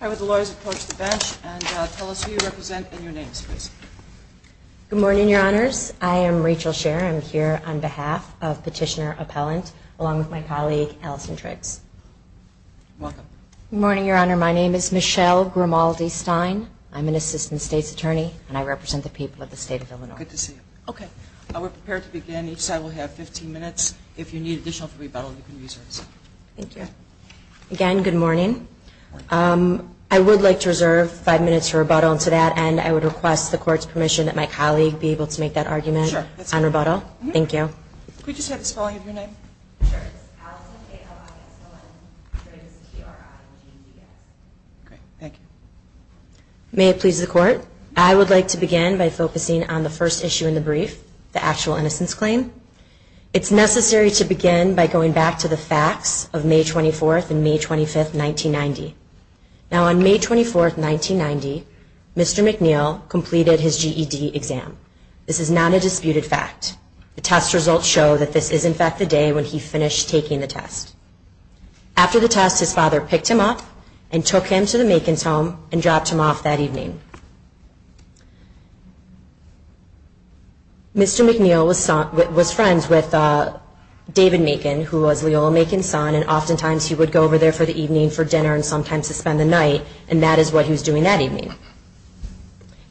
Hi, would the lawyers approach the bench and tell us who you represent and your name, please. Good morning, Your Honors. I am Rachel Sher. I'm here on behalf of Petitioner Appellant, along with my colleague Allison Triggs. Welcome. Good morning, Your Honor. My name is Michelle Grimaldi-Stein. I'm an Assistant State's Attorney, and I represent the people of the state of Illinois. Good to see you. Okay. We're prepared to begin. Each side will have 15 minutes. If you need additional time for rebuttal, you can reserve it. Thank you. Again, good morning. I would like to reserve five minutes for rebuttal, and to that end, I would request the Court's permission that my colleague be able to make that argument on rebuttal. Sure. That's fine. Thank you. Could we just have the spelling of your name? Sure. It's Allison A-L-I-S-L-N Triggs, T-R-I-G-G-S. Great. Thank you. May it please the Court, I would like to begin by focusing on the first issue in the brief, the actual innocence claim. It's necessary to begin by going back to the facts of May 24th and May 25th, 1990. Now, on May 24th, 1990, Mr. McNeil completed his GED exam. This is not a disputed fact. The test results show that this is, in fact, the day when he finished taking the test. After the test, his father picked him up and took him to the Makin's home and dropped him off that evening. Mr. McNeil was friends with David Makin, who was Leola Makin's son, and oftentimes he would go over there for the evening for dinner and sometimes to spend the night, and that is what he was doing that evening.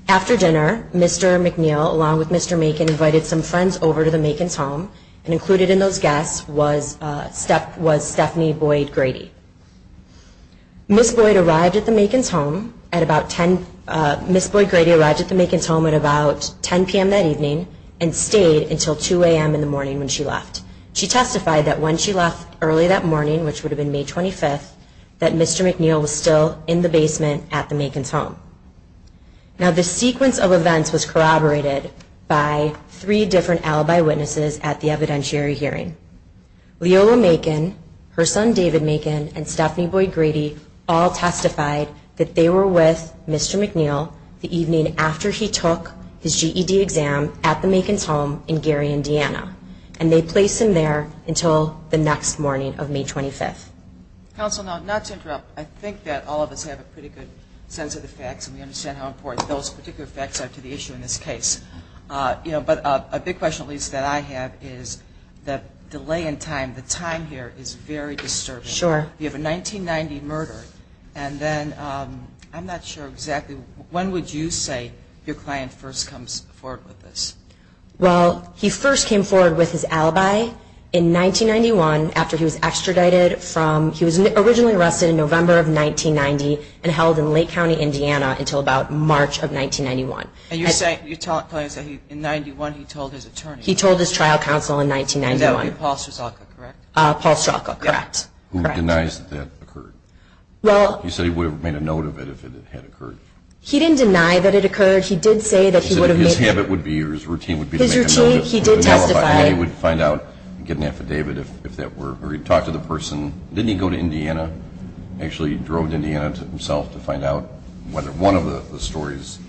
After dinner, Mr. McNeil, along with Mr. Makin, invited some friends over to the Makin's home, and included in those guests was Stephanie Boyd Grady. Ms. Boyd Grady arrived at the Makin's home at about 10 p.m. that evening and stayed until 2 a.m. in the morning when she left. She testified that when she left early that morning, which would have been May 25th, that Mr. McNeil was still in the basement at the Makin's home. Now, this sequence of events was corroborated by three different alibi witnesses at the evidentiary hearing. Leola Makin, her son David Makin, and Stephanie Boyd Grady all testified that they were with Mr. McNeil the evening after he took his GED exam at the Makin's home in Gary, Indiana, and they placed him there until the next morning of May 25th. Counsel, not to interrupt, I think that all of us have a pretty good sense of the facts and we understand how important those particular facts are to the issue in this case. But a big question, at least that I have, is the delay in time. The time here is very disturbing. Sure. You have a 1990 murder, and then I'm not sure exactly when would you say your client first comes forward with this? Well, he first came forward with his alibi in 1991 after he was extradited from ñ he was originally arrested in November of 1990 and held in Lake County, Indiana, until about March of 1991. And you're telling us that in 91 he told his attorney? He told his trial counsel in 1991. That would be Paul Strzalka, correct? Paul Strzalka, correct. Who denies that that occurred? Well ñ You said he would have made a note of it if it had occurred. He didn't deny that it occurred. He did say that he would have made ñ He said his habit would be or his routine would be to make a note of it. His routine, he did testify. He would find out and get an affidavit if that were ñ or he'd talk to the person. Didn't he go to Indiana, actually drove to Indiana himself to find out whether one of the stories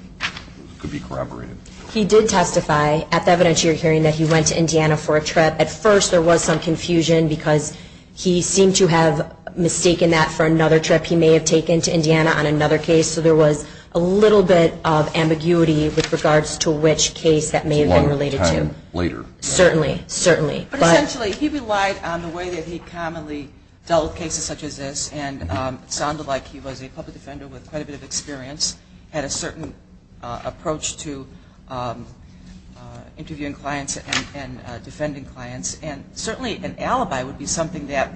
could be corroborated? He did testify at the evidence you're hearing that he went to Indiana for a trip. At first there was some confusion because he seemed to have mistaken that for another trip he may have taken to Indiana on another case. So there was a little bit of ambiguity with regards to which case that may have been related to. A long time later. Certainly. Certainly. But essentially he relied on the way that he commonly dealt with cases such as this and it sounded like he was a public defender with quite a bit of experience, had a certain approach to interviewing clients and defending clients. And certainly an alibi would be something that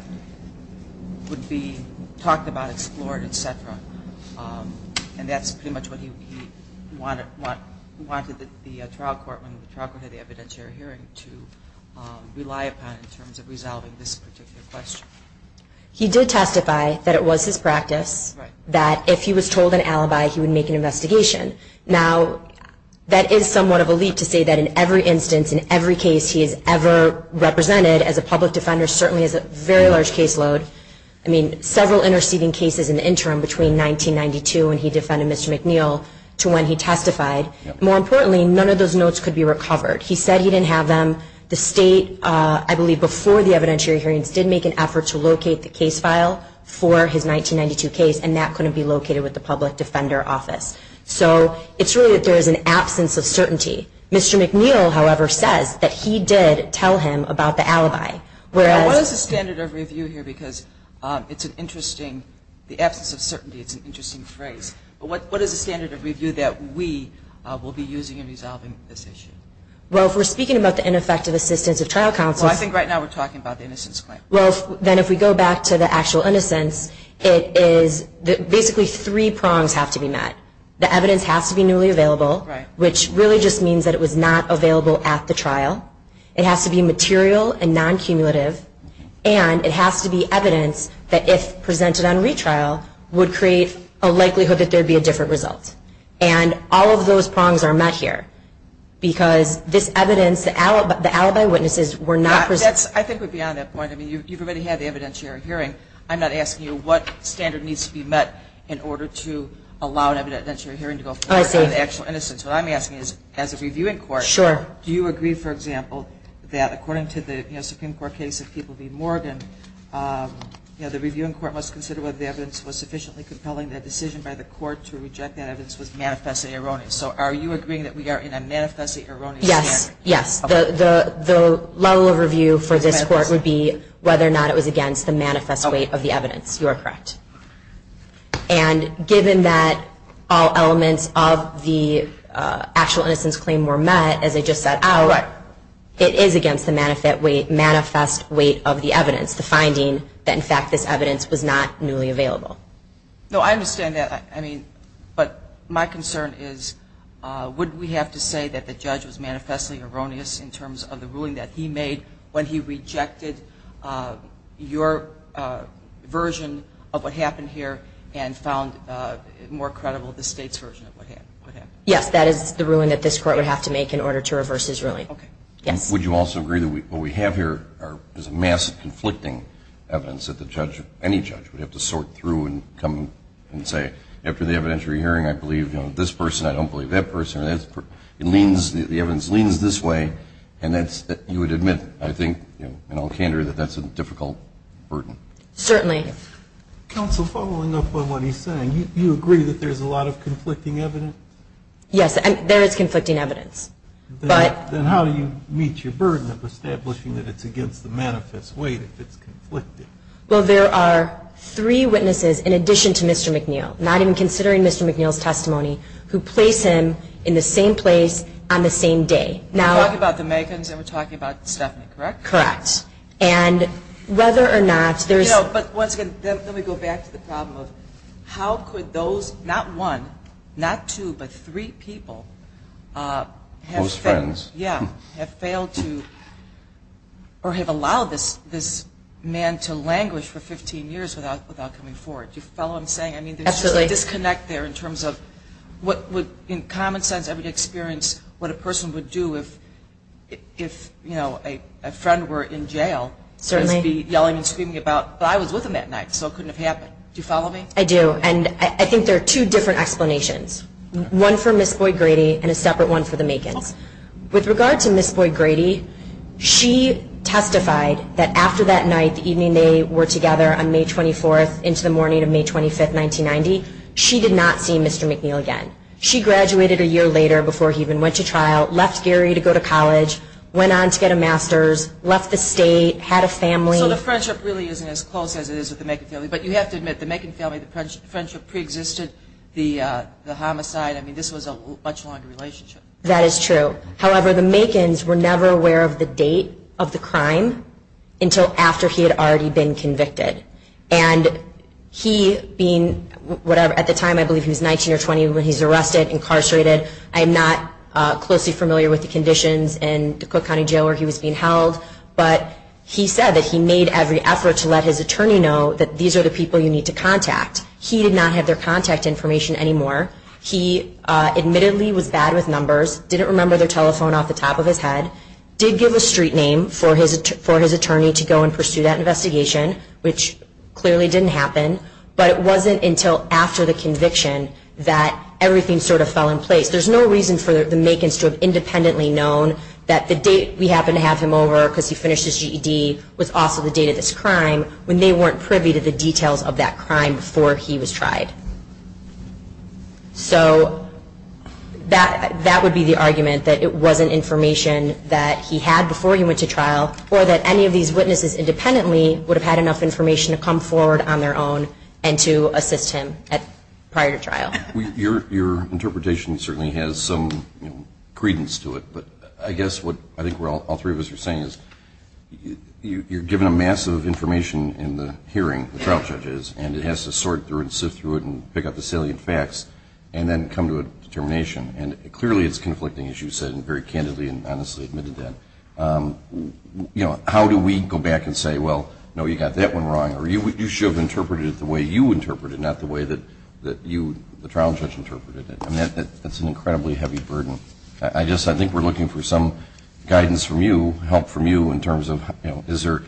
would be talked about, explored, et cetera. And that's pretty much what he wanted the trial court, when the trial court had the evidentiary hearing, to rely upon in terms of resolving this particular question. He did testify that it was his practice that if he was told an alibi, he would make an investigation. Now, that is somewhat of a leap to say that in every instance, in every case he has ever represented as a public defender, certainly is a very large caseload. I mean, several interceding cases in the interim between 1992 when he defended Mr. McNeil to when he testified. More importantly, none of those notes could be recovered. He said he didn't have them. The state, I believe before the evidentiary hearings, did make an effort to locate the case file for his 1992 case and that couldn't be located with the public defender office. So it's really that there is an absence of certainty. Mr. McNeil, however, says that he did tell him about the alibi. Now, what is the standard of review here? Because it's an interesting, the absence of certainty, it's an interesting phrase. But what is the standard of review that we will be using in resolving this issue? Well, if we're speaking about the ineffective assistance of trial counsels. Well, I think right now we're talking about the innocence claim. Well, then if we go back to the actual innocence, it is basically three prongs have to be met. The evidence has to be newly available, which really just means that it was not available at the trial. It has to be material and non-cumulative. And it has to be evidence that if presented on retrial, would create a likelihood that there would be a different result. And all of those prongs are met here. Because this evidence, the alibi witnesses were not presented. That, I think, would be on that point. I mean, you've already had the evidentiary hearing. I'm not asking you what standard needs to be met in order to allow an evidentiary hearing to go forward. Oh, I see. On the actual innocence. What I'm asking is, as a reviewing court. Sure. Do you agree, for example, that according to the Supreme Court case of People v. Morgan, the reviewing court must consider whether the evidence was sufficiently compelling that a decision by the court to reject that evidence was manifestly erroneous. So are you agreeing that we are in a manifestly erroneous scenario? Yes. Yes. The level of review for this court would be whether or not it was against the manifest weight of the evidence. You are correct. And given that all elements of the actual innocence claim were met, as I just said, it is against the manifest weight of the evidence, the finding that, in fact, this evidence was not newly available. No, I understand that. I mean, but my concern is would we have to say that the judge was manifestly erroneous in terms of the ruling that he made when he rejected your version of what happened here and found more credible the state's version of what happened. Yes, that is the ruling that this court would have to make in order to reverse his ruling. Okay. Yes. Would you also agree that what we have here is a mass of conflicting evidence that the judge, any judge, would have to sort through and come and say, after the evidentiary hearing, I believe this person, I don't believe that person. The evidence leans this way, and you would admit, I think, in all candor, that that's a difficult burden. Certainly. Counsel, following up on what he's saying, you agree that there's a lot of conflicting evidence? Yes, there is conflicting evidence. Then how do you meet your burden of establishing that it's against the manifest weight if it's conflicted? Well, there are three witnesses in addition to Mr. McNeil, not even considering Mr. McNeil's testimony, who place him in the same place on the same day. We're talking about the Meghans and we're talking about Stephanie, correct? Correct. And whether or not there's – But, once again, let me go back to the problem of how could those, not one, not two, but three people – Close friends. Yeah, have failed to or have allowed this man to languish for 15 years without coming forward. Do you follow what I'm saying? Absolutely. I mean, there's just a disconnect there in terms of what would, in common sense, I would experience what a person would do if, you know, a friend were in jail. Certainly. Just be yelling and screaming about, but I was with him that night, so it couldn't have happened. Do you follow me? I do, and I think there are two different explanations, one for Ms. Boyd-Grady and a separate one for the Meghans. With regard to Ms. Boyd-Grady, she testified that after that night, the evening they were together on May 24th into the morning of May 25th, 1990, she did not see Mr. McNeil again. She graduated a year later before he even went to trial, left Gary to go to college, went on to get a master's, left the state, had a family. So the friendship really isn't as close as it is with the Meghan family, but you have to admit the Meghan family, the friendship preexisted, the homicide, I mean, this was a much longer relationship. That is true. However, the Meghans were never aware of the date of the crime until after he had already been convicted. And he being, at the time I believe he was 19 or 20 when he was arrested, incarcerated, I am not closely familiar with the conditions in the Cook County Jail where he was being held, but he said that he made every effort to let his attorney know that these are the people you need to contact. He did not have their contact information anymore. He admittedly was bad with numbers, didn't remember their telephone off the top of his head, did give a street name for his attorney to go and pursue that investigation, which clearly didn't happen, but it wasn't until after the conviction that everything sort of fell in place. There's no reason for the Meghans to have independently known that the date we happened to have him over because he finished his GED was also the date of this crime when they weren't privy to the details of that crime before he was tried. So that would be the argument that it wasn't information that he had before he went to trial or that any of these witnesses independently would have had enough information to come forward on their own and to assist him prior to trial. Your interpretation certainly has some credence to it, but I guess what I think all three of us are saying is you're given a mass of information in the hearing, the trial judge is, and it has to sort through it and sift through it and pick up the salient facts and then come to a determination. And clearly it's conflicting, as you said very candidly and honestly admitted that. How do we go back and say, well, no, you got that one wrong or you should have interpreted it the way you interpreted it, not the way that you, the trial judge, interpreted it. That's an incredibly heavy burden. I think we're looking for some guidance from you, help from you, in terms of is there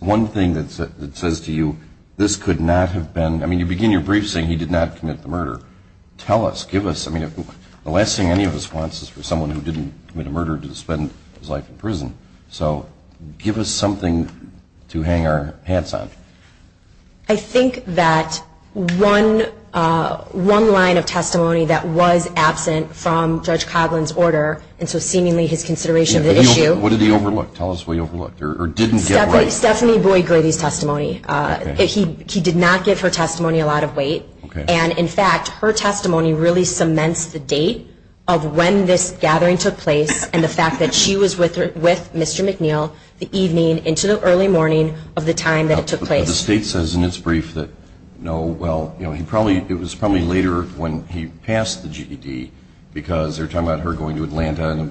one thing that says to you this could not have been, I mean you begin your brief saying he did not commit the murder. Tell us, give us, I mean the last thing any of us wants is for someone who didn't commit a murder to spend his life in prison. So give us something to hang our hats on. I think that one line of testimony that was absent from Judge Coghlan's order and so seemingly his consideration of the issue. What did he overlook? Tell us what he overlooked or didn't get right. Stephanie Boyd Grady's testimony. He did not give her testimony a lot of weight. And, in fact, her testimony really cements the date of when this gathering took place and the fact that she was with Mr. McNeil the evening into the early morning of the time that it took place. The State says in its brief that, no, well, it was probably later when he passed the GED because they were talking about her going to Atlanta and it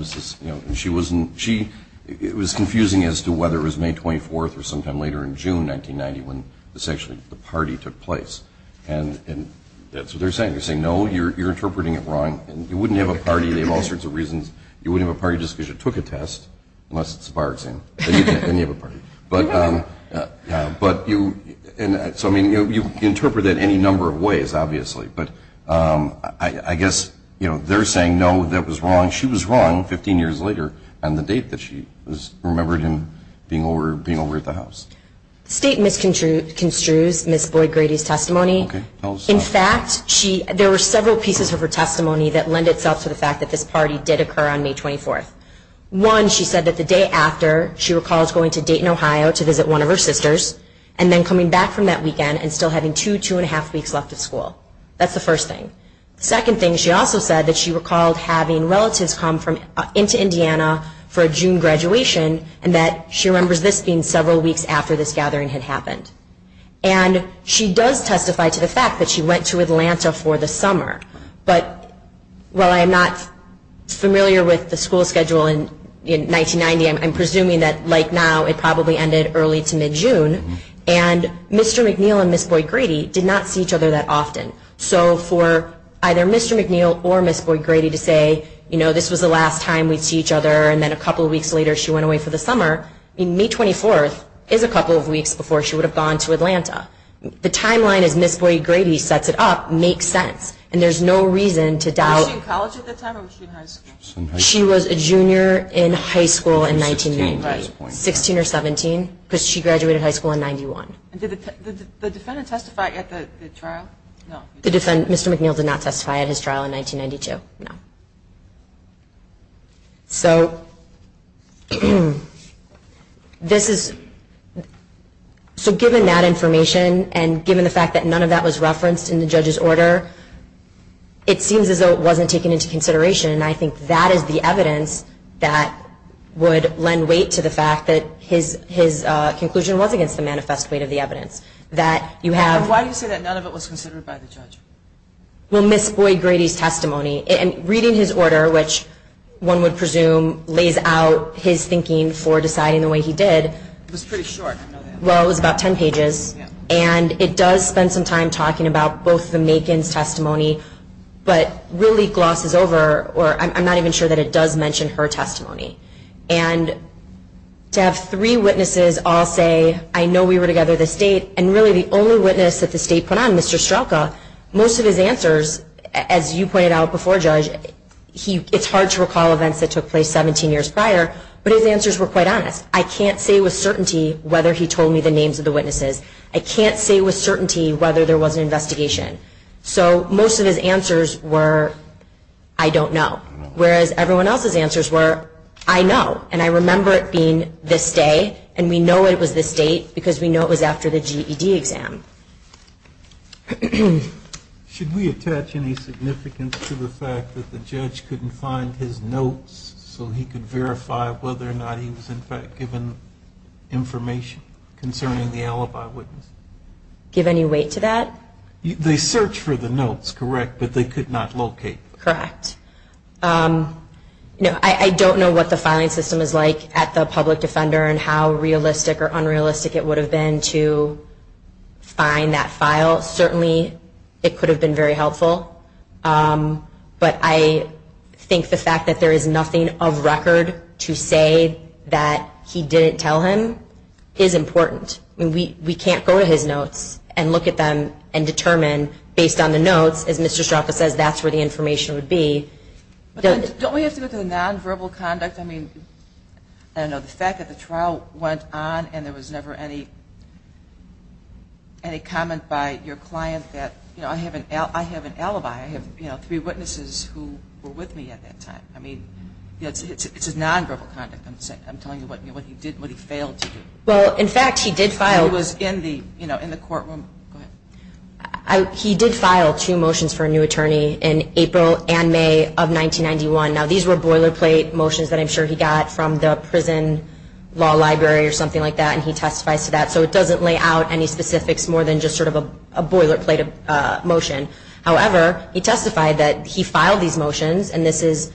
was confusing as to whether it was May 24th or sometime later in June 1990 when essentially the party took place. And that's what they're saying. They're saying, no, you're interpreting it wrong. You wouldn't have a party. They have all sorts of reasons. You wouldn't have a party just because you took a test, unless it's a bar exam, then you have a party. But you interpret it any number of ways, obviously. But I guess they're saying, no, that was wrong. She was wrong 15 years later on the date that she was remembered in being over at the house. The State misconstrues Ms. Boyd Grady's testimony. In fact, there were several pieces of her testimony that lend itself to the fact that this party did occur on May 24th. One, she said that the day after, she recalls going to Dayton, Ohio to visit one of her sisters and then coming back from that weekend and still having two, two and a half weeks left of school. That's the first thing. The second thing, she also said that she recalled having relatives come into Indiana for a June graduation and that she remembers this being several weeks after this gathering had happened. And she does testify to the fact that she went to Atlanta for the summer. But while I'm not familiar with the school schedule in 1990, I'm presuming that, like now, it probably ended early to mid-June. And Mr. McNeil and Ms. Boyd Grady did not see each other that often. So for either Mr. McNeil or Ms. Boyd Grady to say, you know, this was the last time we'd see each other, and then a couple of weeks later she went away for the summer, May 24th is a couple of weeks before she would have gone to Atlanta. The timeline as Ms. Boyd Grady sets it up makes sense. And there's no reason to doubt... Was she in college at the time or was she in high school? She was a junior in high school in 1990. 16 or 17, because she graduated high school in 91. And did the defendant testify at the trial? No. Mr. McNeil did not testify at his trial in 1992. No. So... This is... So given that information and given the fact that none of that was referenced in the judge's order, it seems as though it wasn't taken into consideration. And I think that is the evidence that would lend weight to the fact that his conclusion was against the manifest weight of the evidence, that you have... Why do you say that none of it was considered by the judge? Well, Ms. Boyd Grady's testimony, and reading his order, which one would presume lays out his thinking for deciding the way he did... It was pretty short. Well, it was about 10 pages. And it does spend some time talking about both the Makin's testimony, but really glosses over, or I'm not even sure that it does mention her testimony. And to have three witnesses all say, I know we were together this date, and really the only witness that the state put on, Mr. Strelka, most of his answers, as you pointed out before, Judge, it's hard to recall events that took place 17 years prior, but his answers were quite honest. I can't say with certainty whether he told me the names of the witnesses. I can't say with certainty whether there was an investigation. So most of his answers were, I don't know. Whereas everyone else's answers were, I know, and I remember it being this day, and we know it was this date because we know it was after the GED exam. Should we attach any significance to the fact that the judge couldn't find his notes so he could verify whether or not he was, in fact, given information concerning the alibi witness? Give any weight to that? They searched for the notes, correct, but they could not locate them. Correct. I don't know what the filing system is like at the public defender and how realistic or unrealistic it would have been to find that file. Certainly it could have been very helpful, but I think the fact that there is nothing of record to say that he didn't tell him is important. We can't go to his notes and look at them and determine, based on the notes, as Mr. Straffa says, that's where the information would be. Don't we have to look at the nonverbal conduct? I mean, I don't know, the fact that the trial went on and there was never any comment by your client that, you know, I have an alibi, I have three witnesses who were with me at that time. I mean, it's his nonverbal conduct. I'm telling you what he did and what he failed to do. Well, in fact, he did file. He was in the courtroom. He did file two motions for a new attorney in April and May of 1991. Now, these were boilerplate motions that I'm sure he got from the prison law library or something like that, and he testifies to that. So it doesn't lay out any specifics more than just sort of a boilerplate motion. However, he testified that he filed these motions, and this is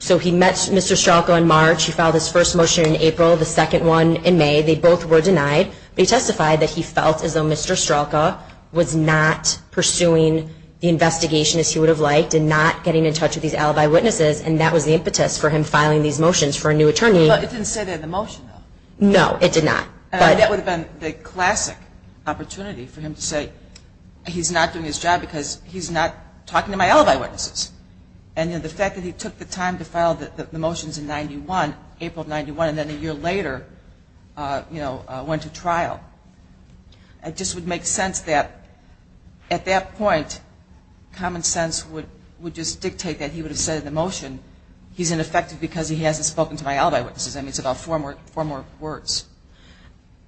so he met Mr. Straffa in March. He filed his first motion in April, the second one in May. They both were denied. But he testified that he felt as though Mr. Straffa was not pursuing the investigation as he would have liked and not getting in touch with these alibi witnesses, and that was the impetus for him filing these motions for a new attorney. But it didn't say that in the motion, though. No, it did not. That would have been the classic opportunity for him to say he's not doing his job because he's not talking to my alibi witnesses. And, you know, the fact that he took the time to file the motions in April of 91 and then a year later, you know, went to trial, it just would make sense that at that point common sense would just dictate that he would have said in the motion he's ineffective because he hasn't spoken to my alibi witnesses. I mean, it's about four more words.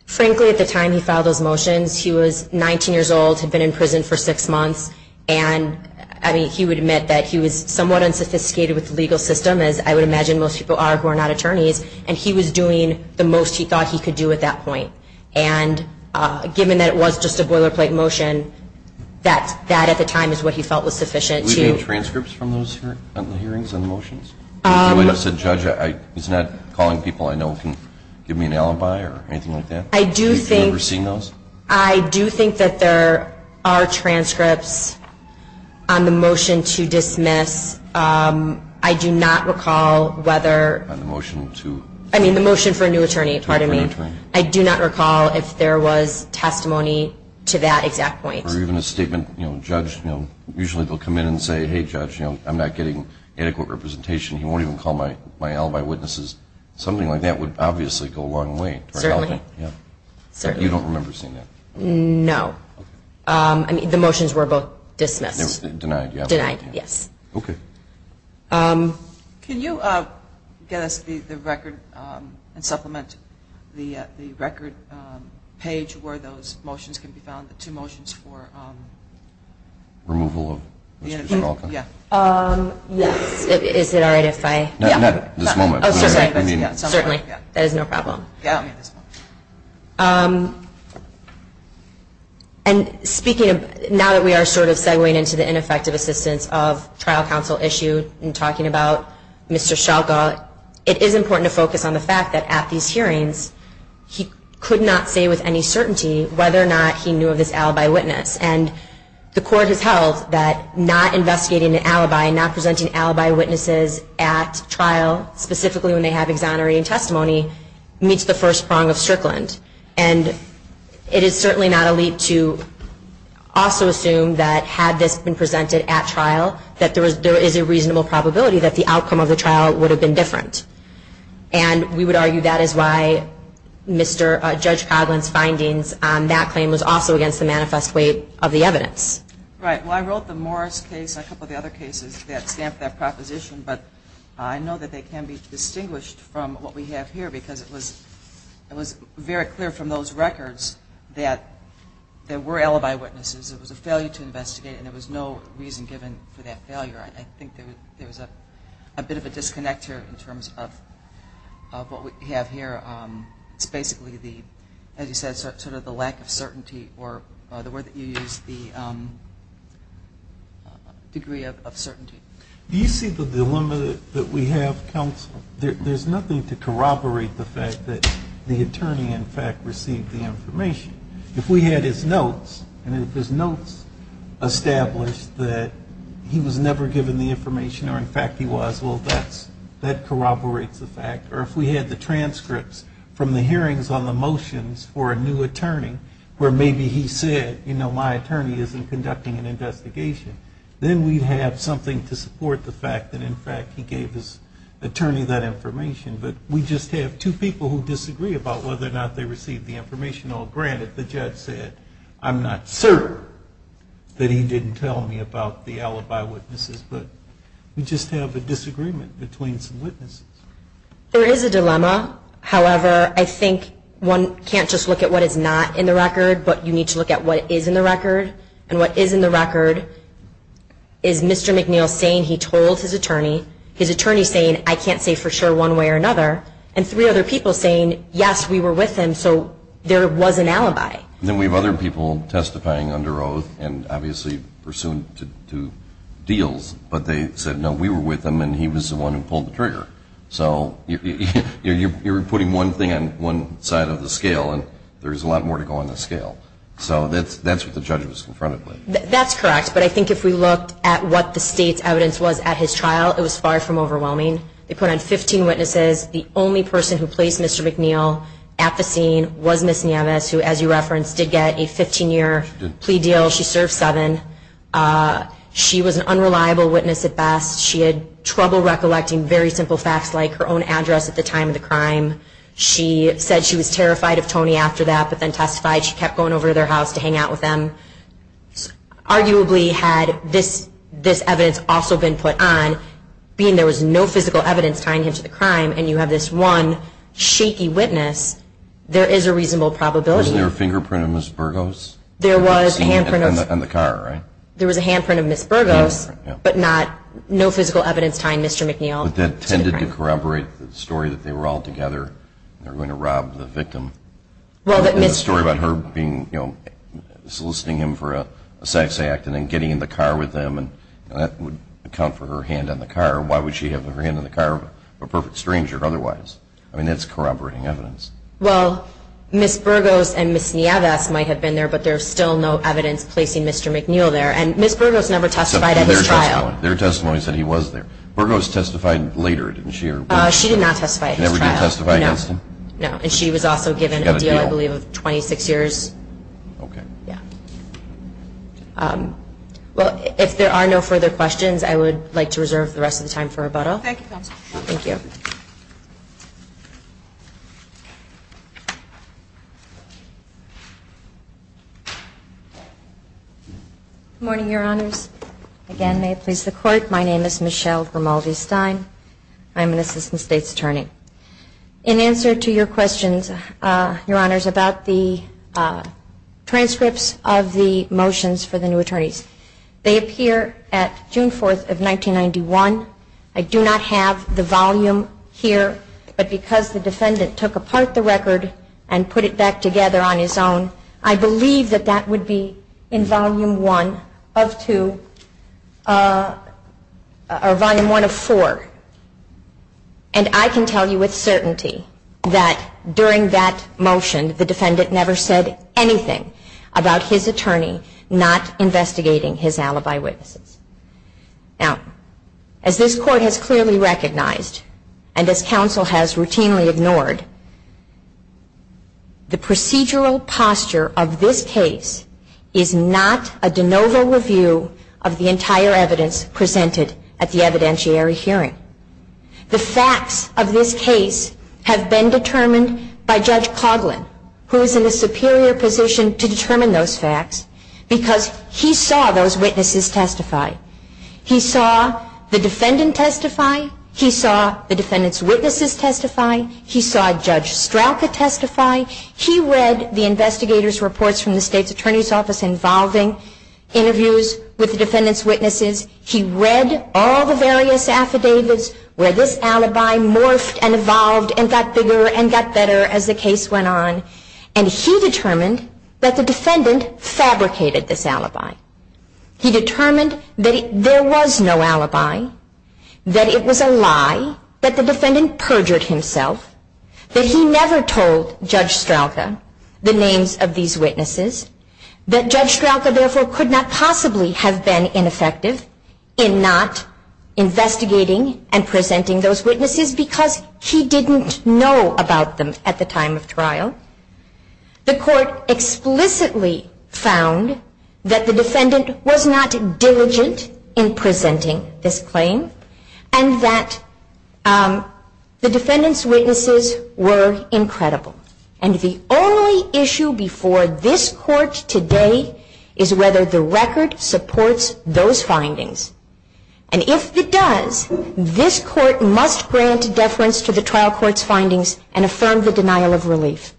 Frankly, at the time he filed those motions, he was 19 years old, had been in prison for six months, and, I mean, he would admit that he was somewhat unsophisticated with the legal system, as I would imagine most people are who are not attorneys, and he was doing the most he thought he could do at that point. And given that it was just a boilerplate motion, that at the time is what he felt was sufficient to do. Do we have transcripts from those hearings and motions? He's not calling people I know who can give me an alibi or anything like that? Have you ever seen those? I do not recall whether the motion for a new attorney, pardon me, I do not recall if there was testimony to that exact point. Or even a statement, you know, a judge, you know, usually they'll come in and say, hey, judge, you know, I'm not getting adequate representation, he won't even call my alibi witnesses. Something like that would obviously go a long way. Certainly. You don't remember seeing that? No. I mean, the motions were both dismissed. Denied, yes. Okay. Can you get us the record and supplement the record page where those motions can be found, the two motions for removal of Ms. Kuchelka? Yes. Is it all right if I? Not at this moment. Certainly. That is no problem. And speaking of, now that we are sort of segwaying into the ineffective assistance of trial counsel issued and talking about Mr. Shalka, it is important to focus on the fact that at these hearings, he could not say with any certainty whether or not he knew of this alibi witness. And the court has held that not investigating an alibi, not presenting alibi witnesses at trial, specifically when they have exonerating testimony, meets the first prong of Strickland. And it is certainly not a leap to also assume that had this been presented at trial, that there is a reasonable probability that the outcome of the trial would have been different. And we would argue that is why Judge Coghlan's findings on that claim was also against the manifest weight of the evidence. Right. Well, I wrote the Morris case and a couple of the other cases that stamp that proposition, but I know that they can be distinguished from what we have here because it was very clear from those records that there were alibi witnesses. It was a failure to investigate, and there was no reason given for that failure. I think there was a bit of a disconnect here in terms of what we have here. It's basically, as you said, sort of the lack of certainty or the word that you used, the degree of certainty. Do you see the dilemma that we have, counsel? There's nothing to corroborate the fact that the attorney, in fact, received the information. If we had his notes, and if his notes established that he was never given the information or, in fact, he was, well, that corroborates the fact. Or if we had the transcripts from the hearings on the motions for a new attorney, where maybe he said, you know, my attorney isn't conducting an investigation, then we'd have something to support the fact that, in fact, he gave his attorney that information. But we just have two people who disagree about whether or not they received the information. Now, granted, the judge said, I'm not certain that he didn't tell me about the alibi witnesses, but we just have a disagreement between some witnesses. There is a dilemma. However, I think one can't just look at what is not in the record, but you need to look at what is in the record. And what is in the record is Mr. McNeil saying he told his attorney, his attorney saying, I can't say for sure one way or another, and three other people saying, yes, we were with him. So there was an alibi. Then we have other people testifying under oath and obviously pursuant to deals, but they said, no, we were with him, and he was the one who pulled the trigger. So you're putting one thing on one side of the scale, and there's a lot more to go on the scale. So that's what the judge was confronted with. That's correct. But I think if we looked at what the state's evidence was at his trial, it was far from overwhelming. They put on 15 witnesses. The only person who placed Mr. McNeil at the scene was Ms. Nieves, who, as you referenced, did get a 15-year plea deal. She served seven. She was an unreliable witness at best. She had trouble recollecting very simple facts like her own address at the time of the crime. She said she was terrified of Tony after that, but then testified she kept going over to their house to hang out with him. Arguably, had this evidence also been put on, being there was no physical evidence tying him to the crime, and you have this one shaky witness, there is a reasonable probability. Wasn't there a fingerprint of Ms. Burgos? There was a handprint of Ms. Burgos, but no physical evidence tying Mr. McNeil to the crime. But that tended to corroborate the story that they were all together, and they were going to rob the victim. The story about her soliciting him for a sex act and then getting in the car with him, and that would account for her hand on the car. Why would she have her hand on the car of a perfect stranger otherwise? I mean, that's corroborating evidence. Well, Ms. Burgos and Ms. Nieves might have been there, but there's still no evidence placing Mr. McNeil there. And Ms. Burgos never testified at his trial. Their testimony said he was there. Burgos testified later, didn't she? She did not testify at his trial. She never did testify against him? No. And she was also given a deal, I believe, of 26 years. Okay. Yeah. Well, if there are no further questions, I would like to reserve the rest of the time for rebuttal. Thank you, Counsel. Thank you. Good morning, Your Honors. Again, may it please the Court, my name is Michelle Grimaldi-Stein. I'm an assistant state's attorney. In answer to your questions, Your Honors, about the transcripts of the motions for the new attorneys, they appear at June 4th of 1991. I do not have the volume here, but because the defendant took apart the record and put it back together on his own, I believe that that would be in Volume 1 of 2 or Volume 1 of 4. And I can tell you with certainty that during that motion, the defendant never said anything about his attorney not investigating his alibi witnesses. Now, as this Court has clearly recognized, and as Counsel has routinely ignored, the procedural posture of this case is not a de novo review of the entire evidence presented at the evidentiary hearing. The facts of this case have been determined by Judge Coughlin, who is in a superior position to determine those facts, because he saw those witnesses testify. He saw the defendant testify. He saw the defendant's witnesses testify. He saw Judge Strauka testify. He read the investigator's reports from the state's attorney's office involving interviews with the defendant's witnesses. He read all the various affidavits where this alibi morphed and evolved and got bigger and got better as the case went on. And he determined that the defendant fabricated this alibi. He determined that there was no alibi, that it was a lie, that the defendant perjured himself, that he never told Judge Strauka the names of these witnesses, that Judge Strauka, therefore, could not possibly have been ineffective in not investigating and presenting those witnesses because he didn't know about them at the time of trial. The Court explicitly found that the defendant was not diligent in presenting this claim and that the defendant's witnesses were incredible. And the only issue before this Court today is whether the record supports those findings. And if it does, this Court must grant deference to the trial court's findings and affirm the denial of relief.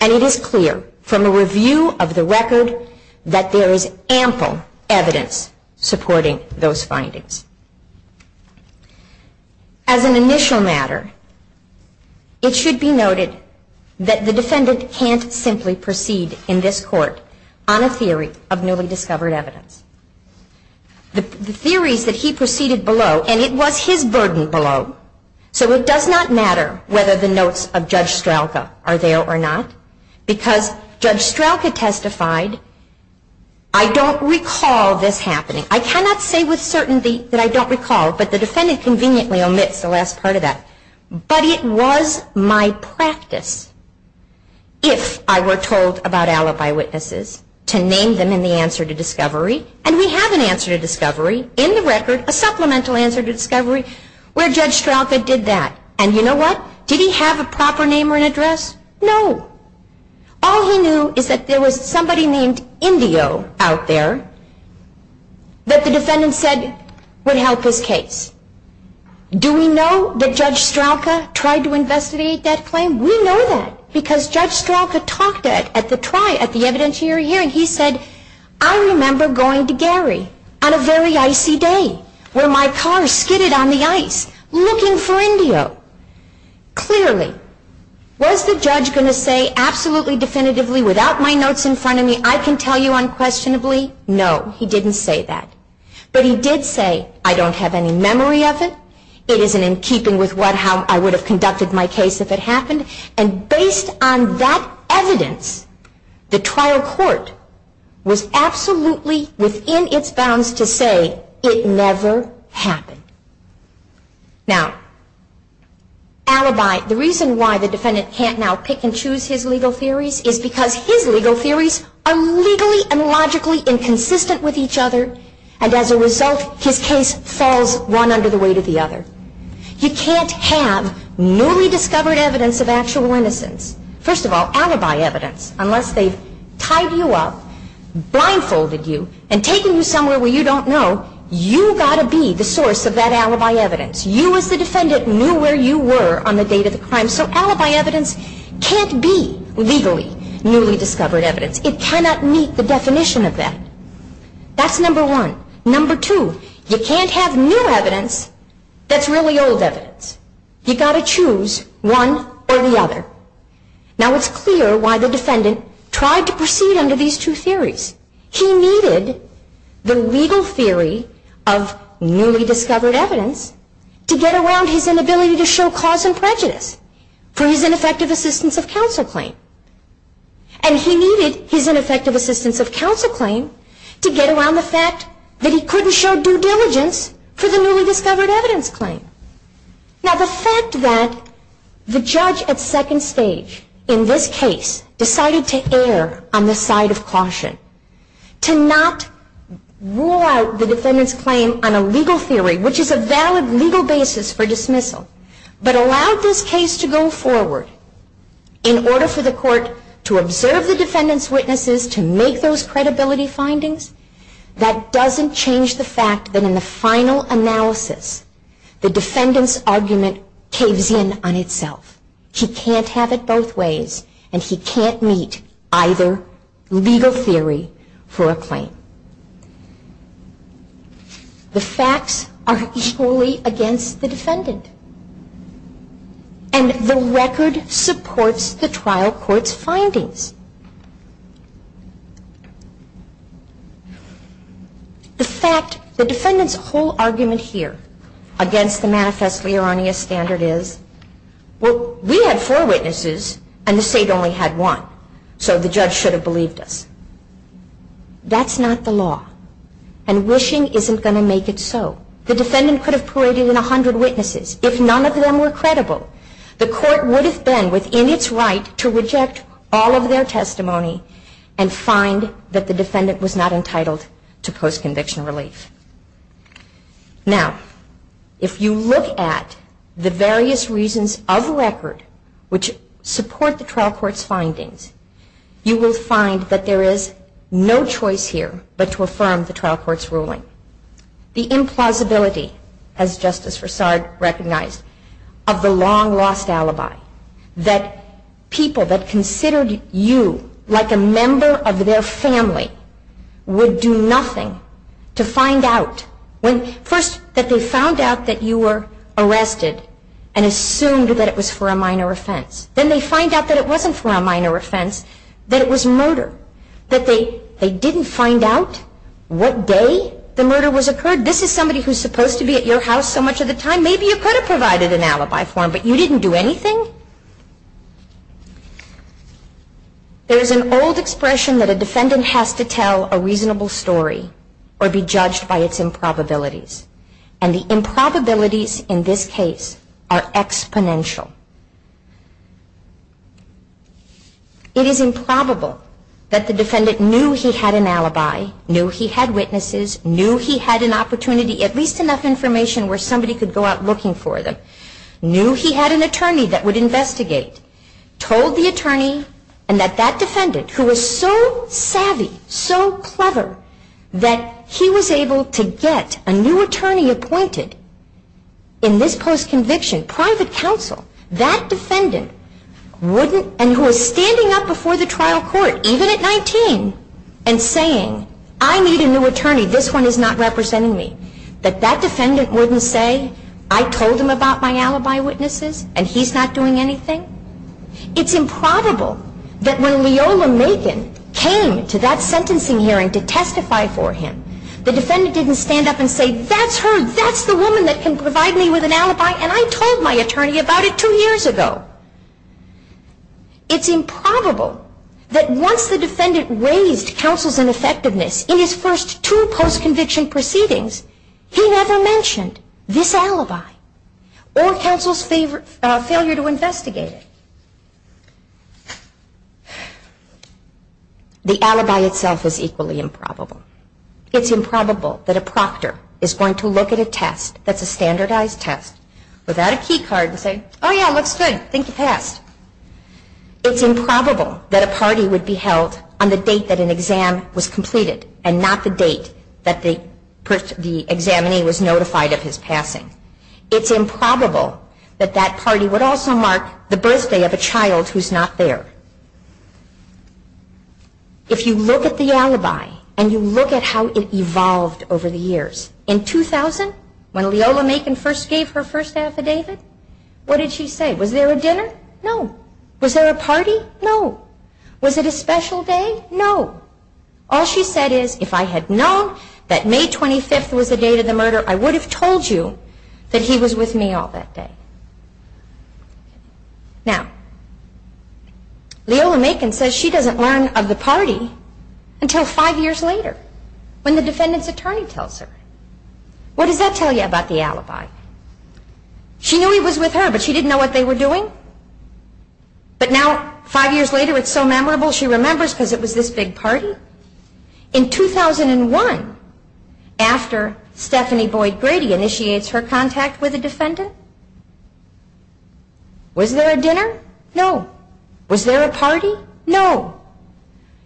And it is clear from a review of the record that there is ample evidence supporting those findings. As an initial matter, it should be noted that the defendant can't simply proceed in this Court on a theory of newly discovered evidence. The theories that he proceeded below, and it was his burden below, so it does not matter whether the notes of Judge Strauka are there or not because Judge Strauka testified, I don't recall this happening. I cannot say with certainty that I don't recall, but the defendant conveniently omits the last part of that. But it was my practice, if I were told about alibi witnesses, to name them in the answer to discovery. And we have an answer to discovery in the record, a supplemental answer to discovery, where Judge Strauka did that. And you know what? Did he have a proper name or an address? No. All he knew is that there was somebody named Indio out there that the defendant said would help his case. Do we know that Judge Strauka tried to investigate that claim? We know that because Judge Strauka talked at the evidentiary hearing. He said, I remember going to Gary on a very icy day where my car skidded on the ice looking for Indio. Clearly, was the judge going to say absolutely definitively, without my notes in front of me, I can tell you unquestionably? No, he didn't say that. But he did say, I don't have any memory of it. It isn't in keeping with how I would have conducted my case if it happened. And based on that evidence, the trial court was absolutely within its bounds to say it never happened. Now, alibi. The reason why the defendant can't now pick and choose his legal theories is because his legal theories are legally and logically inconsistent with each other. And as a result, his case falls one under the weight of the other. You can't have newly discovered evidence of actual innocence. First of all, alibi evidence. Unless they've tied you up, blindfolded you, and taken you somewhere where you don't know, you've got to be the source of that alibi evidence. You as the defendant knew where you were on the date of the crime. So alibi evidence can't be legally newly discovered evidence. It cannot meet the definition of that. That's number one. Number two, you can't have new evidence that's really old evidence. You've got to choose one or the other. Now, it's clear why the defendant tried to proceed under these two theories. He needed the legal theory of newly discovered evidence to get around his inability to show cause and prejudice for his ineffective assistance of counsel claim. And he needed his ineffective assistance of counsel claim to get around the fact that he couldn't show due diligence for the newly discovered evidence claim. Now, the fact that the judge at second stage in this case decided to err on the side of caution, to not rule out the defendant's claim on a legal theory, which is a valid legal basis for dismissal, but allowed this case to go forward in order for the court to observe the defendant's witnesses, to make those credibility findings, that doesn't change the fact that in the final analysis, the defendant's argument caves in on itself. He can't have it both ways, and he can't meet either legal theory for a claim. The facts are equally against the defendant, and the record supports the trial court's findings. The fact, the defendant's whole argument here, against the manifestly erroneous standard is, well, we had four witnesses, and the state only had one, so the judge should have believed us. That's not the law, and wishing isn't going to make it so. The defendant could have paraded in a hundred witnesses if none of them were credible. The court would have been within its right to reject all of their claims. Now, if you look at the various reasons of the record, which support the trial court's findings, you will find that there is no choice here but to affirm the trial court's ruling. The implausibility, as Justice Roussard recognized, of the long-lost alibi, like a member of their family, would do nothing to find out. First, that they found out that you were arrested and assumed that it was for a minor offense. Then they find out that it wasn't for a minor offense, that it was murder. That they didn't find out what day the murder was occurred. This is somebody who's supposed to be at your house so much of the time. So maybe you could have provided an alibi form, but you didn't do anything? There's an old expression that a defendant has to tell a reasonable story or be judged by its improbabilities. And the improbabilities in this case are exponential. It is improbable that the defendant knew he had an alibi, knew he had witnesses, knew he had an opportunity, at least enough information where somebody could go out looking for them, knew he had an attorney that would investigate, told the attorney, and that that defendant, who was so savvy, so clever, that he was able to get a new attorney appointed in this post-conviction, private counsel, that defendant wouldn't, and who was standing up before the trial court, even at 19, and saying, I need a new attorney, this one is not representing me, that that defendant wouldn't say, I told him about my alibi witnesses, and he's not doing anything? It's improbable that when Leola Macon came to that sentencing hearing to testify for him, the defendant didn't stand up and say, that's her, that's the woman that can provide me with an alibi, and I told my attorney about it two years ago. It's improbable that once the defendant raised counsel's ineffectiveness in his first two post-conviction proceedings, he never mentioned this alibi, or counsel's failure to investigate it. The alibi itself is equally improbable. It's improbable that a proctor is going to look at a test, that's a standardized test, without a key card, and say, oh yeah, looks good, I think you passed. It's improbable that a party would be held on the date that an exam was completed, and not the date that the examinee was notified of his passing. It's improbable that that party would also mark the birthday of a child who's not there. If you look at the alibi, and you look at how it evolved over the years, in 2000, when Leola Macon first gave her first affidavit, what did she say? Was there a dinner? No. Was there a party? No. Was it a special day? No. All she said is, if I had known that May 25th was the date of the murder, I would have told you that he was with me all that day. Now, Leola Macon says she doesn't learn of the party until five years later, when the defendant's attorney tells her. What does that tell you about the alibi? She knew he was with her, but she didn't know what they were doing. But now, five years later, it's so memorable, she remembers because it was this big party. In 2001, after Stephanie Boyd Grady initiates her contact with a defendant, was there a dinner? No. Was there a party? No.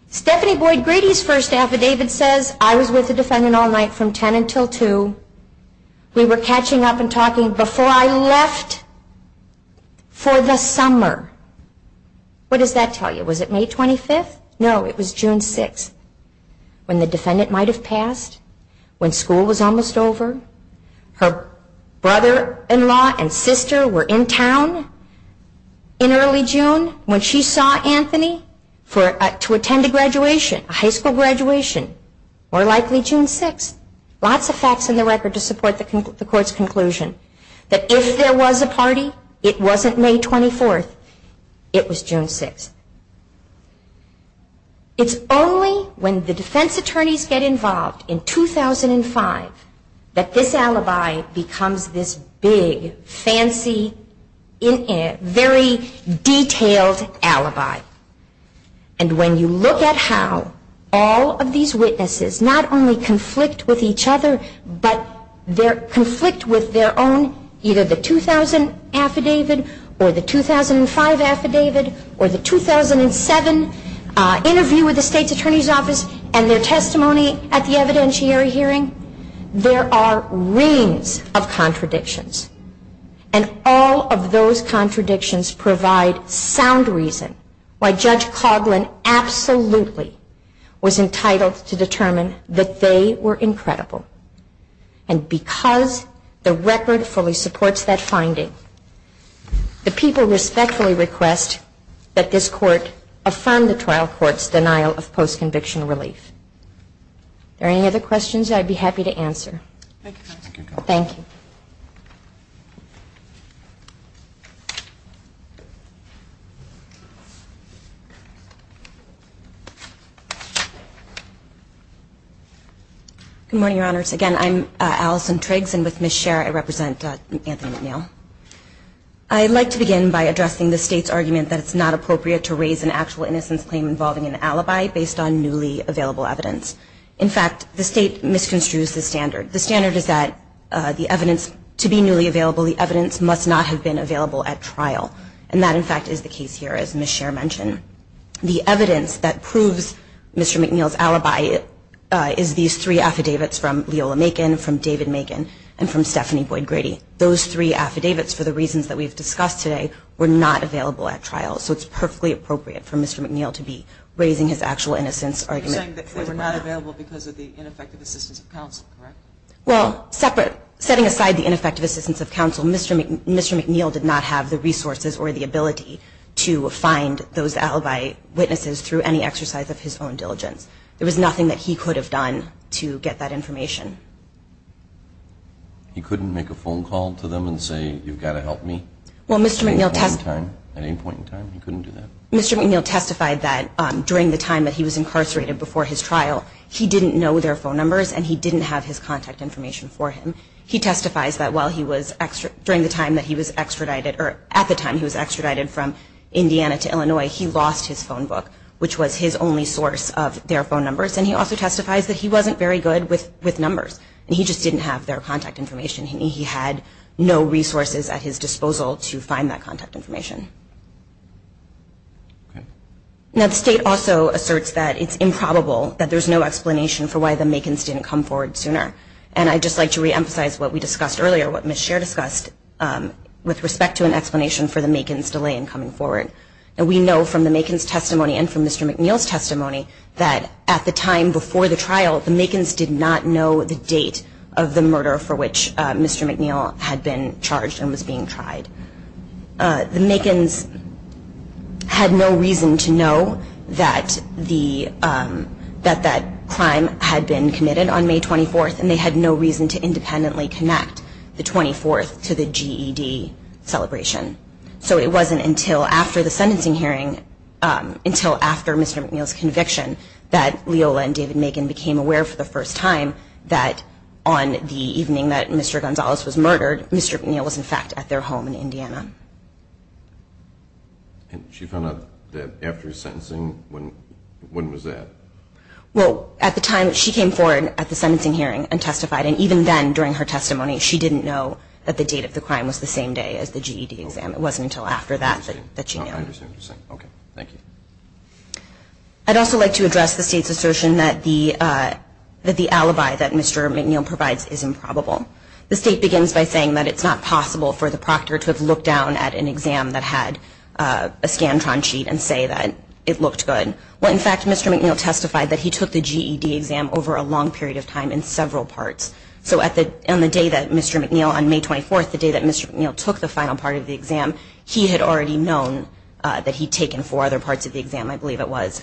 Stephanie Boyd Grady's first affidavit says, I was with the defendant all night from 10 until 2. We were catching up and talking before I left for the summer. What does that tell you? Was it May 25th? No, it was June 6th, when the defendant might have passed, when school was almost over. Her brother-in-law and sister were in town in early June, when she saw Anthony to attend a graduation, a high school graduation. More likely June 6th. Lots of facts in the record to support the court's conclusion, that if there was a party, it wasn't May 24th, it was June 6th. It's only when the defense attorneys get involved in 2005 that this alibi becomes this big, fancy, very detailed alibi. And when you look at how all of these witnesses not only conflict with each other, but conflict with their own, either the 2000 affidavit or the 2005 affidavit or the 2007 interview with the state's attorney's office and their testimony at the evidentiary hearing, there are reams of contradictions. And all of those contradictions provide sound reason why Judge Coughlin absolutely was entitled to determine that they were incredible. And because the record fully supports that finding, the people respectfully request that this court affirm the trial court's denial of post-conviction relief. Are there any other questions I'd be happy to answer? Thank you. Good morning, Your Honors. Again, I'm Allison Triggs, and with Ms. Scherer I represent Anthony McNeil. I'd like to begin by addressing the state's argument that it's not appropriate to raise an actual innocence claim involving an alibi based on newly available evidence. In fact, the state misconstrues the standard. The standard is that the evidence to be newly available, the evidence must not have been available at trial. And that, in fact, is the case here, as Ms. Scherer mentioned. The evidence that proves Mr. McNeil's alibi is these three affidavits from Leola Macon, from David Macon, and from Stephanie Boyd-Grady. Those three affidavits, for the reasons that we've discussed today, were not available at trial. So it's perfectly appropriate for Mr. McNeil to be raising his actual innocence argument. You're saying that they were not available because of the ineffective assistance of counsel, correct? Well, setting aside the ineffective assistance of counsel, Mr. McNeil did not have the resources or the ability to find those alibi witnesses through any exercise of his own diligence. There was nothing that he could have done to get that information. He couldn't make a phone call to them and say, you've got to help me? At any point in time, he couldn't do that. Mr. McNeil testified that during the time that he was incarcerated before his trial, he didn't know their phone numbers and he didn't have his contact information for him. He testifies that at the time he was extradited from Indiana to Illinois, he lost his phone book, which was his only source of their phone numbers. And he also testifies that he wasn't very good with numbers, and he just didn't have their contact information. He had no resources at his disposal to find that contact information. Now, the state also asserts that it's improbable that there's no explanation for why the Makins didn't come forward sooner. And I'd just like to reemphasize what we discussed earlier, what Ms. Scher discussed, with respect to an explanation for the Makins' delay in coming forward. We know from the Makins' testimony and from Mr. McNeil's testimony that at the time before the trial, the Makins did not know the date of the murder for which Mr. McNeil had been charged and was being tried. The Makins had no reason to know that that crime had been committed on May 24th, and they had no reason to independently connect the 24th to the GED celebration. So it wasn't until after the sentencing hearing, until after Mr. McNeil's conviction, that Leola and David Makin became aware for the first time that on the evening that Mr. Gonzalez was murdered, Mr. McNeil was, in fact, at their home in Indiana. And she found out that after his sentencing, when was that? Well, at the time she came forward at the sentencing hearing and testified, and even then during her testimony she didn't know that the date of the crime was the same day as the GED exam. It wasn't until after that that she knew. I understand what you're saying. Okay. Thank you. I'd also like to address the State's assertion that the alibi that Mr. McNeil provides is improbable. The State begins by saying that it's not possible for the proctor to have looked down at an exam that had a Scantron sheet and say that it looked good. Well, in fact, Mr. McNeil testified that he took the GED exam over a long period of time in several parts. So on the day that Mr. McNeil, on May 24th, the day that Mr. McNeil took the final part of the exam, he had already known that he'd taken four other parts of the exam, I believe it was.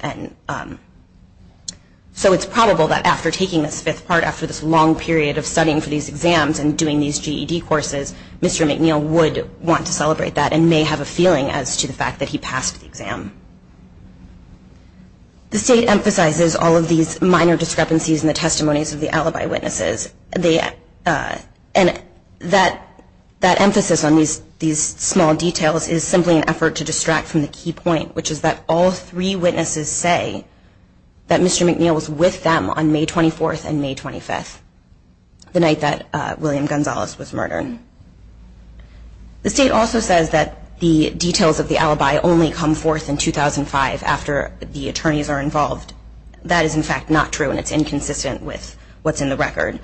So it's probable that after taking this fifth part, after this long period of studying for these exams and doing these GED courses, Mr. McNeil would want to celebrate that and may have a feeling as to the fact that he passed the exam. The State emphasizes all of these minor discrepancies in the testimonies of the alibi witnesses. And that emphasis on these small details is simply an effort to distract from the key point, which is that all three witnesses say that Mr. McNeil was with them on May 24th and May 25th, the night that William Gonzalez was murdered. The State also says that the details of the alibi only come forth in 2005 after the attorneys are involved. That is, in fact, not true, and it's inconsistent with what's in the record.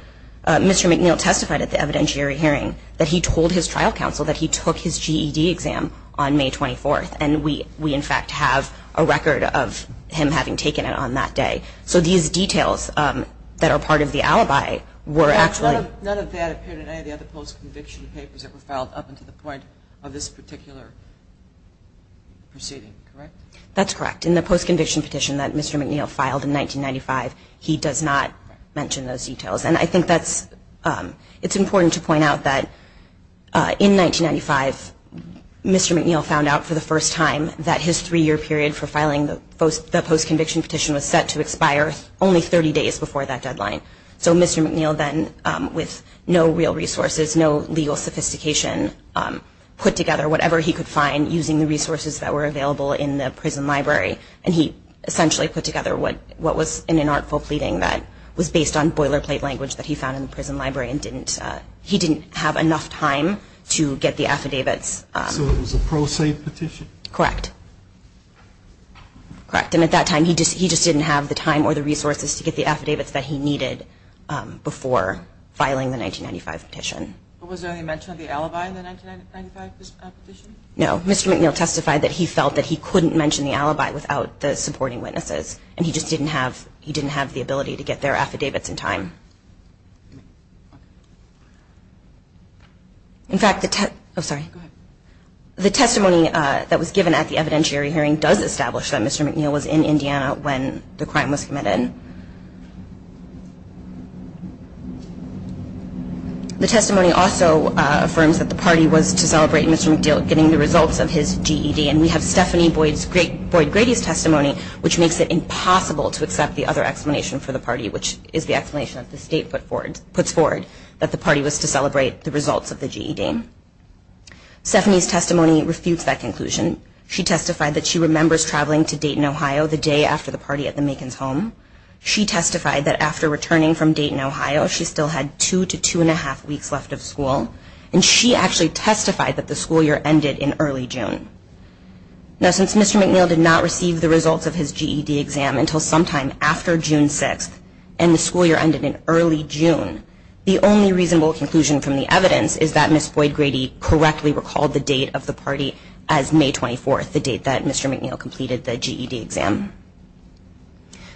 Mr. McNeil testified at the evidentiary hearing that he told his trial counsel that he took his GED exam on May 24th, and we, in fact, have a record of him having taken it on that day. So these details that are part of the alibi were actually... None of that appeared in any of the other post-conviction papers that were filed up until the point of this particular proceeding, correct? That's correct. In the post-conviction petition that Mr. McNeil filed in 1995, he does not mention those details. And I think it's important to point out that in 1995, Mr. McNeil found out for the first time that his three-year period for filing the post-conviction petition was set to expire only 30 days before that deadline. So Mr. McNeil then, with no real resources, no legal sophistication, put together whatever he could find using the resources that were available in the prison library, and he essentially put together what was an inartful pleading that was based on boilerplate language that he found in the prison library, and he didn't have enough time to get the affidavits. So it was a pro se petition? Correct. And at that time, he just didn't have the time or the resources to get the affidavits that he needed before filing the 1995 petition. But was there any mention of the alibi in the 1995 petition? No. Mr. McNeil testified that he felt that he couldn't mention the alibi without the supporting witnesses, and he just didn't have the ability to get their affidavits in time. In fact, the testimony that was given at the evidentiary hearing does establish that Mr. McNeil was in Indiana when the crime was committed. The testimony also affirms that the party was to celebrate Mr. McNeil getting the results of his GED, and we have Stephanie Boyd-Grady's testimony, which makes it impossible to accept the other explanation for the party, which is the explanation that the state puts forward, that the party was to celebrate the results of the GED. Stephanie's testimony refutes that conclusion. She testified that she remembers traveling to Dayton, Ohio, the day after the party at the Makin's home. She testified that after returning from Dayton, Ohio, she still had two to two-and-a-half weeks left of school. And she actually testified that the school year ended in early June. Now, since Mr. McNeil did not receive the results of his GED exam until sometime after June 6th, and the school year ended in early June, the only reasonable conclusion from the evidence is that Ms. Boyd-Grady correctly recalled the date of the party as May 24th, the date that Mr. McNeil completed the GED exam.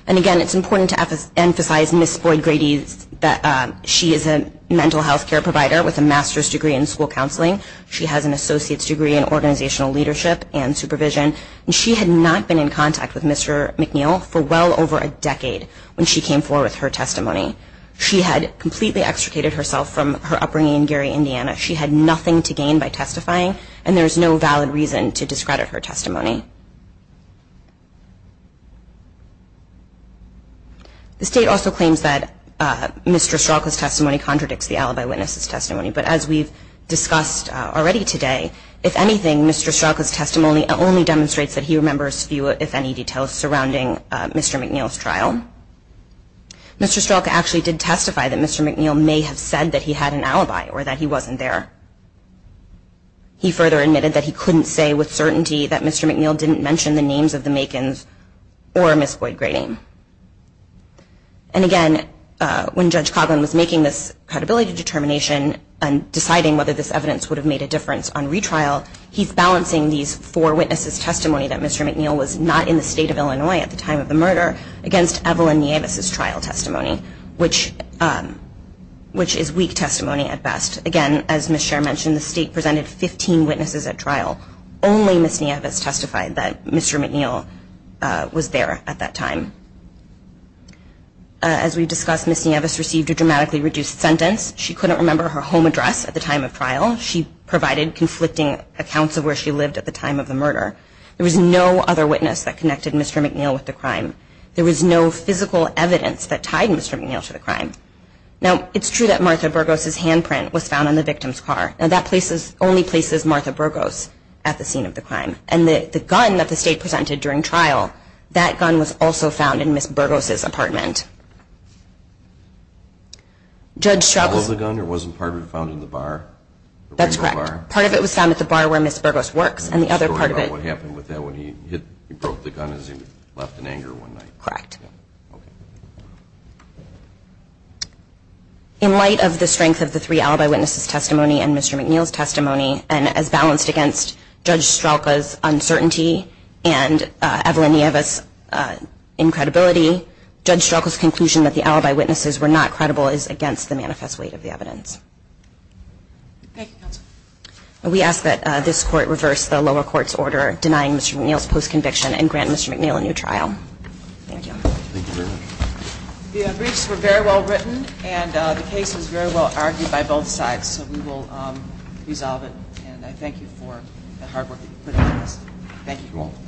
And again, it's important to emphasize Ms. Boyd-Grady that she is a mental health care provider with a master's degree in school counseling. She has an associate's degree in organizational leadership and supervision. And she had not been in contact with Mr. McNeil for well over a decade when she came forward with her testimony. She had completely extricated herself from her upbringing in Gary, Indiana. She had nothing to gain by testifying, and there is no valid reason to discredit her testimony. The state also claims that Mr. Stralka's testimony contradicts the alibi witness's testimony. But as we've discussed already today, if anything, Mr. Stralka's testimony only demonstrates that he remembers few, if any, details surrounding Mr. McNeil's trial. Mr. Stralka actually did testify that Mr. McNeil may have said that he had an alibi or that he wasn't there. He further admitted that he couldn't say with certainty that Mr. McNeil didn't mention the names of the Makins or Ms. Boyd-Grady. And again, when Judge Coghlan was making this credibility determination and deciding whether this evidence would have made a difference on retrial, he's balancing these four witnesses' testimony that Mr. McNeil was not in the state of Illinois at the time of the murder against Evelyn Nieves' trial testimony, which is weak testimony at best. Again, as Ms. Sher mentioned, the state presented 15 witnesses at trial. Only Ms. Nieves testified that Mr. McNeil was there at that time. As we've discussed, Ms. Nieves received a dramatically reduced sentence. She couldn't remember her home address at the time of trial. She provided conflicting accounts of where she lived at the time of the murder. There was no other witness that connected Mr. McNeil with the crime. There was no physical evidence that tied Mr. McNeil to the crime. Now, it's true that Martha Burgos' handprint was found on the victim's car. Now, that only places Martha Burgos at the scene of the crime. And the gun that the state presented during trial, that gun was also found in Ms. Burgos' apartment. Was part of the gun or wasn't part of it found in the bar? That's correct. Part of it was found at the bar where Ms. Burgos works. And the other part of it... The story about what happened with that when he broke the gun as he left in anger one night. Correct. In light of the strength of the three alibi witnesses' testimony and Mr. McNeil's testimony, and as balanced against Judge Strelka's uncertainty and Evelyn Nieves' incredibility, Judge Strelka's conclusion that the alibi witnesses were not credible is against the manifest weight of the evidence. Thank you, counsel. We ask that this court reverse the lower court's order denying Mr. McNeil's post-conviction and grant Mr. McNeil a new trial. Thank you. Thank you very much. The briefs were very well written, and the case was very well argued by both sides. So we will resolve it, and I thank you for the hard work that you put into this. Thank you. You're welcome.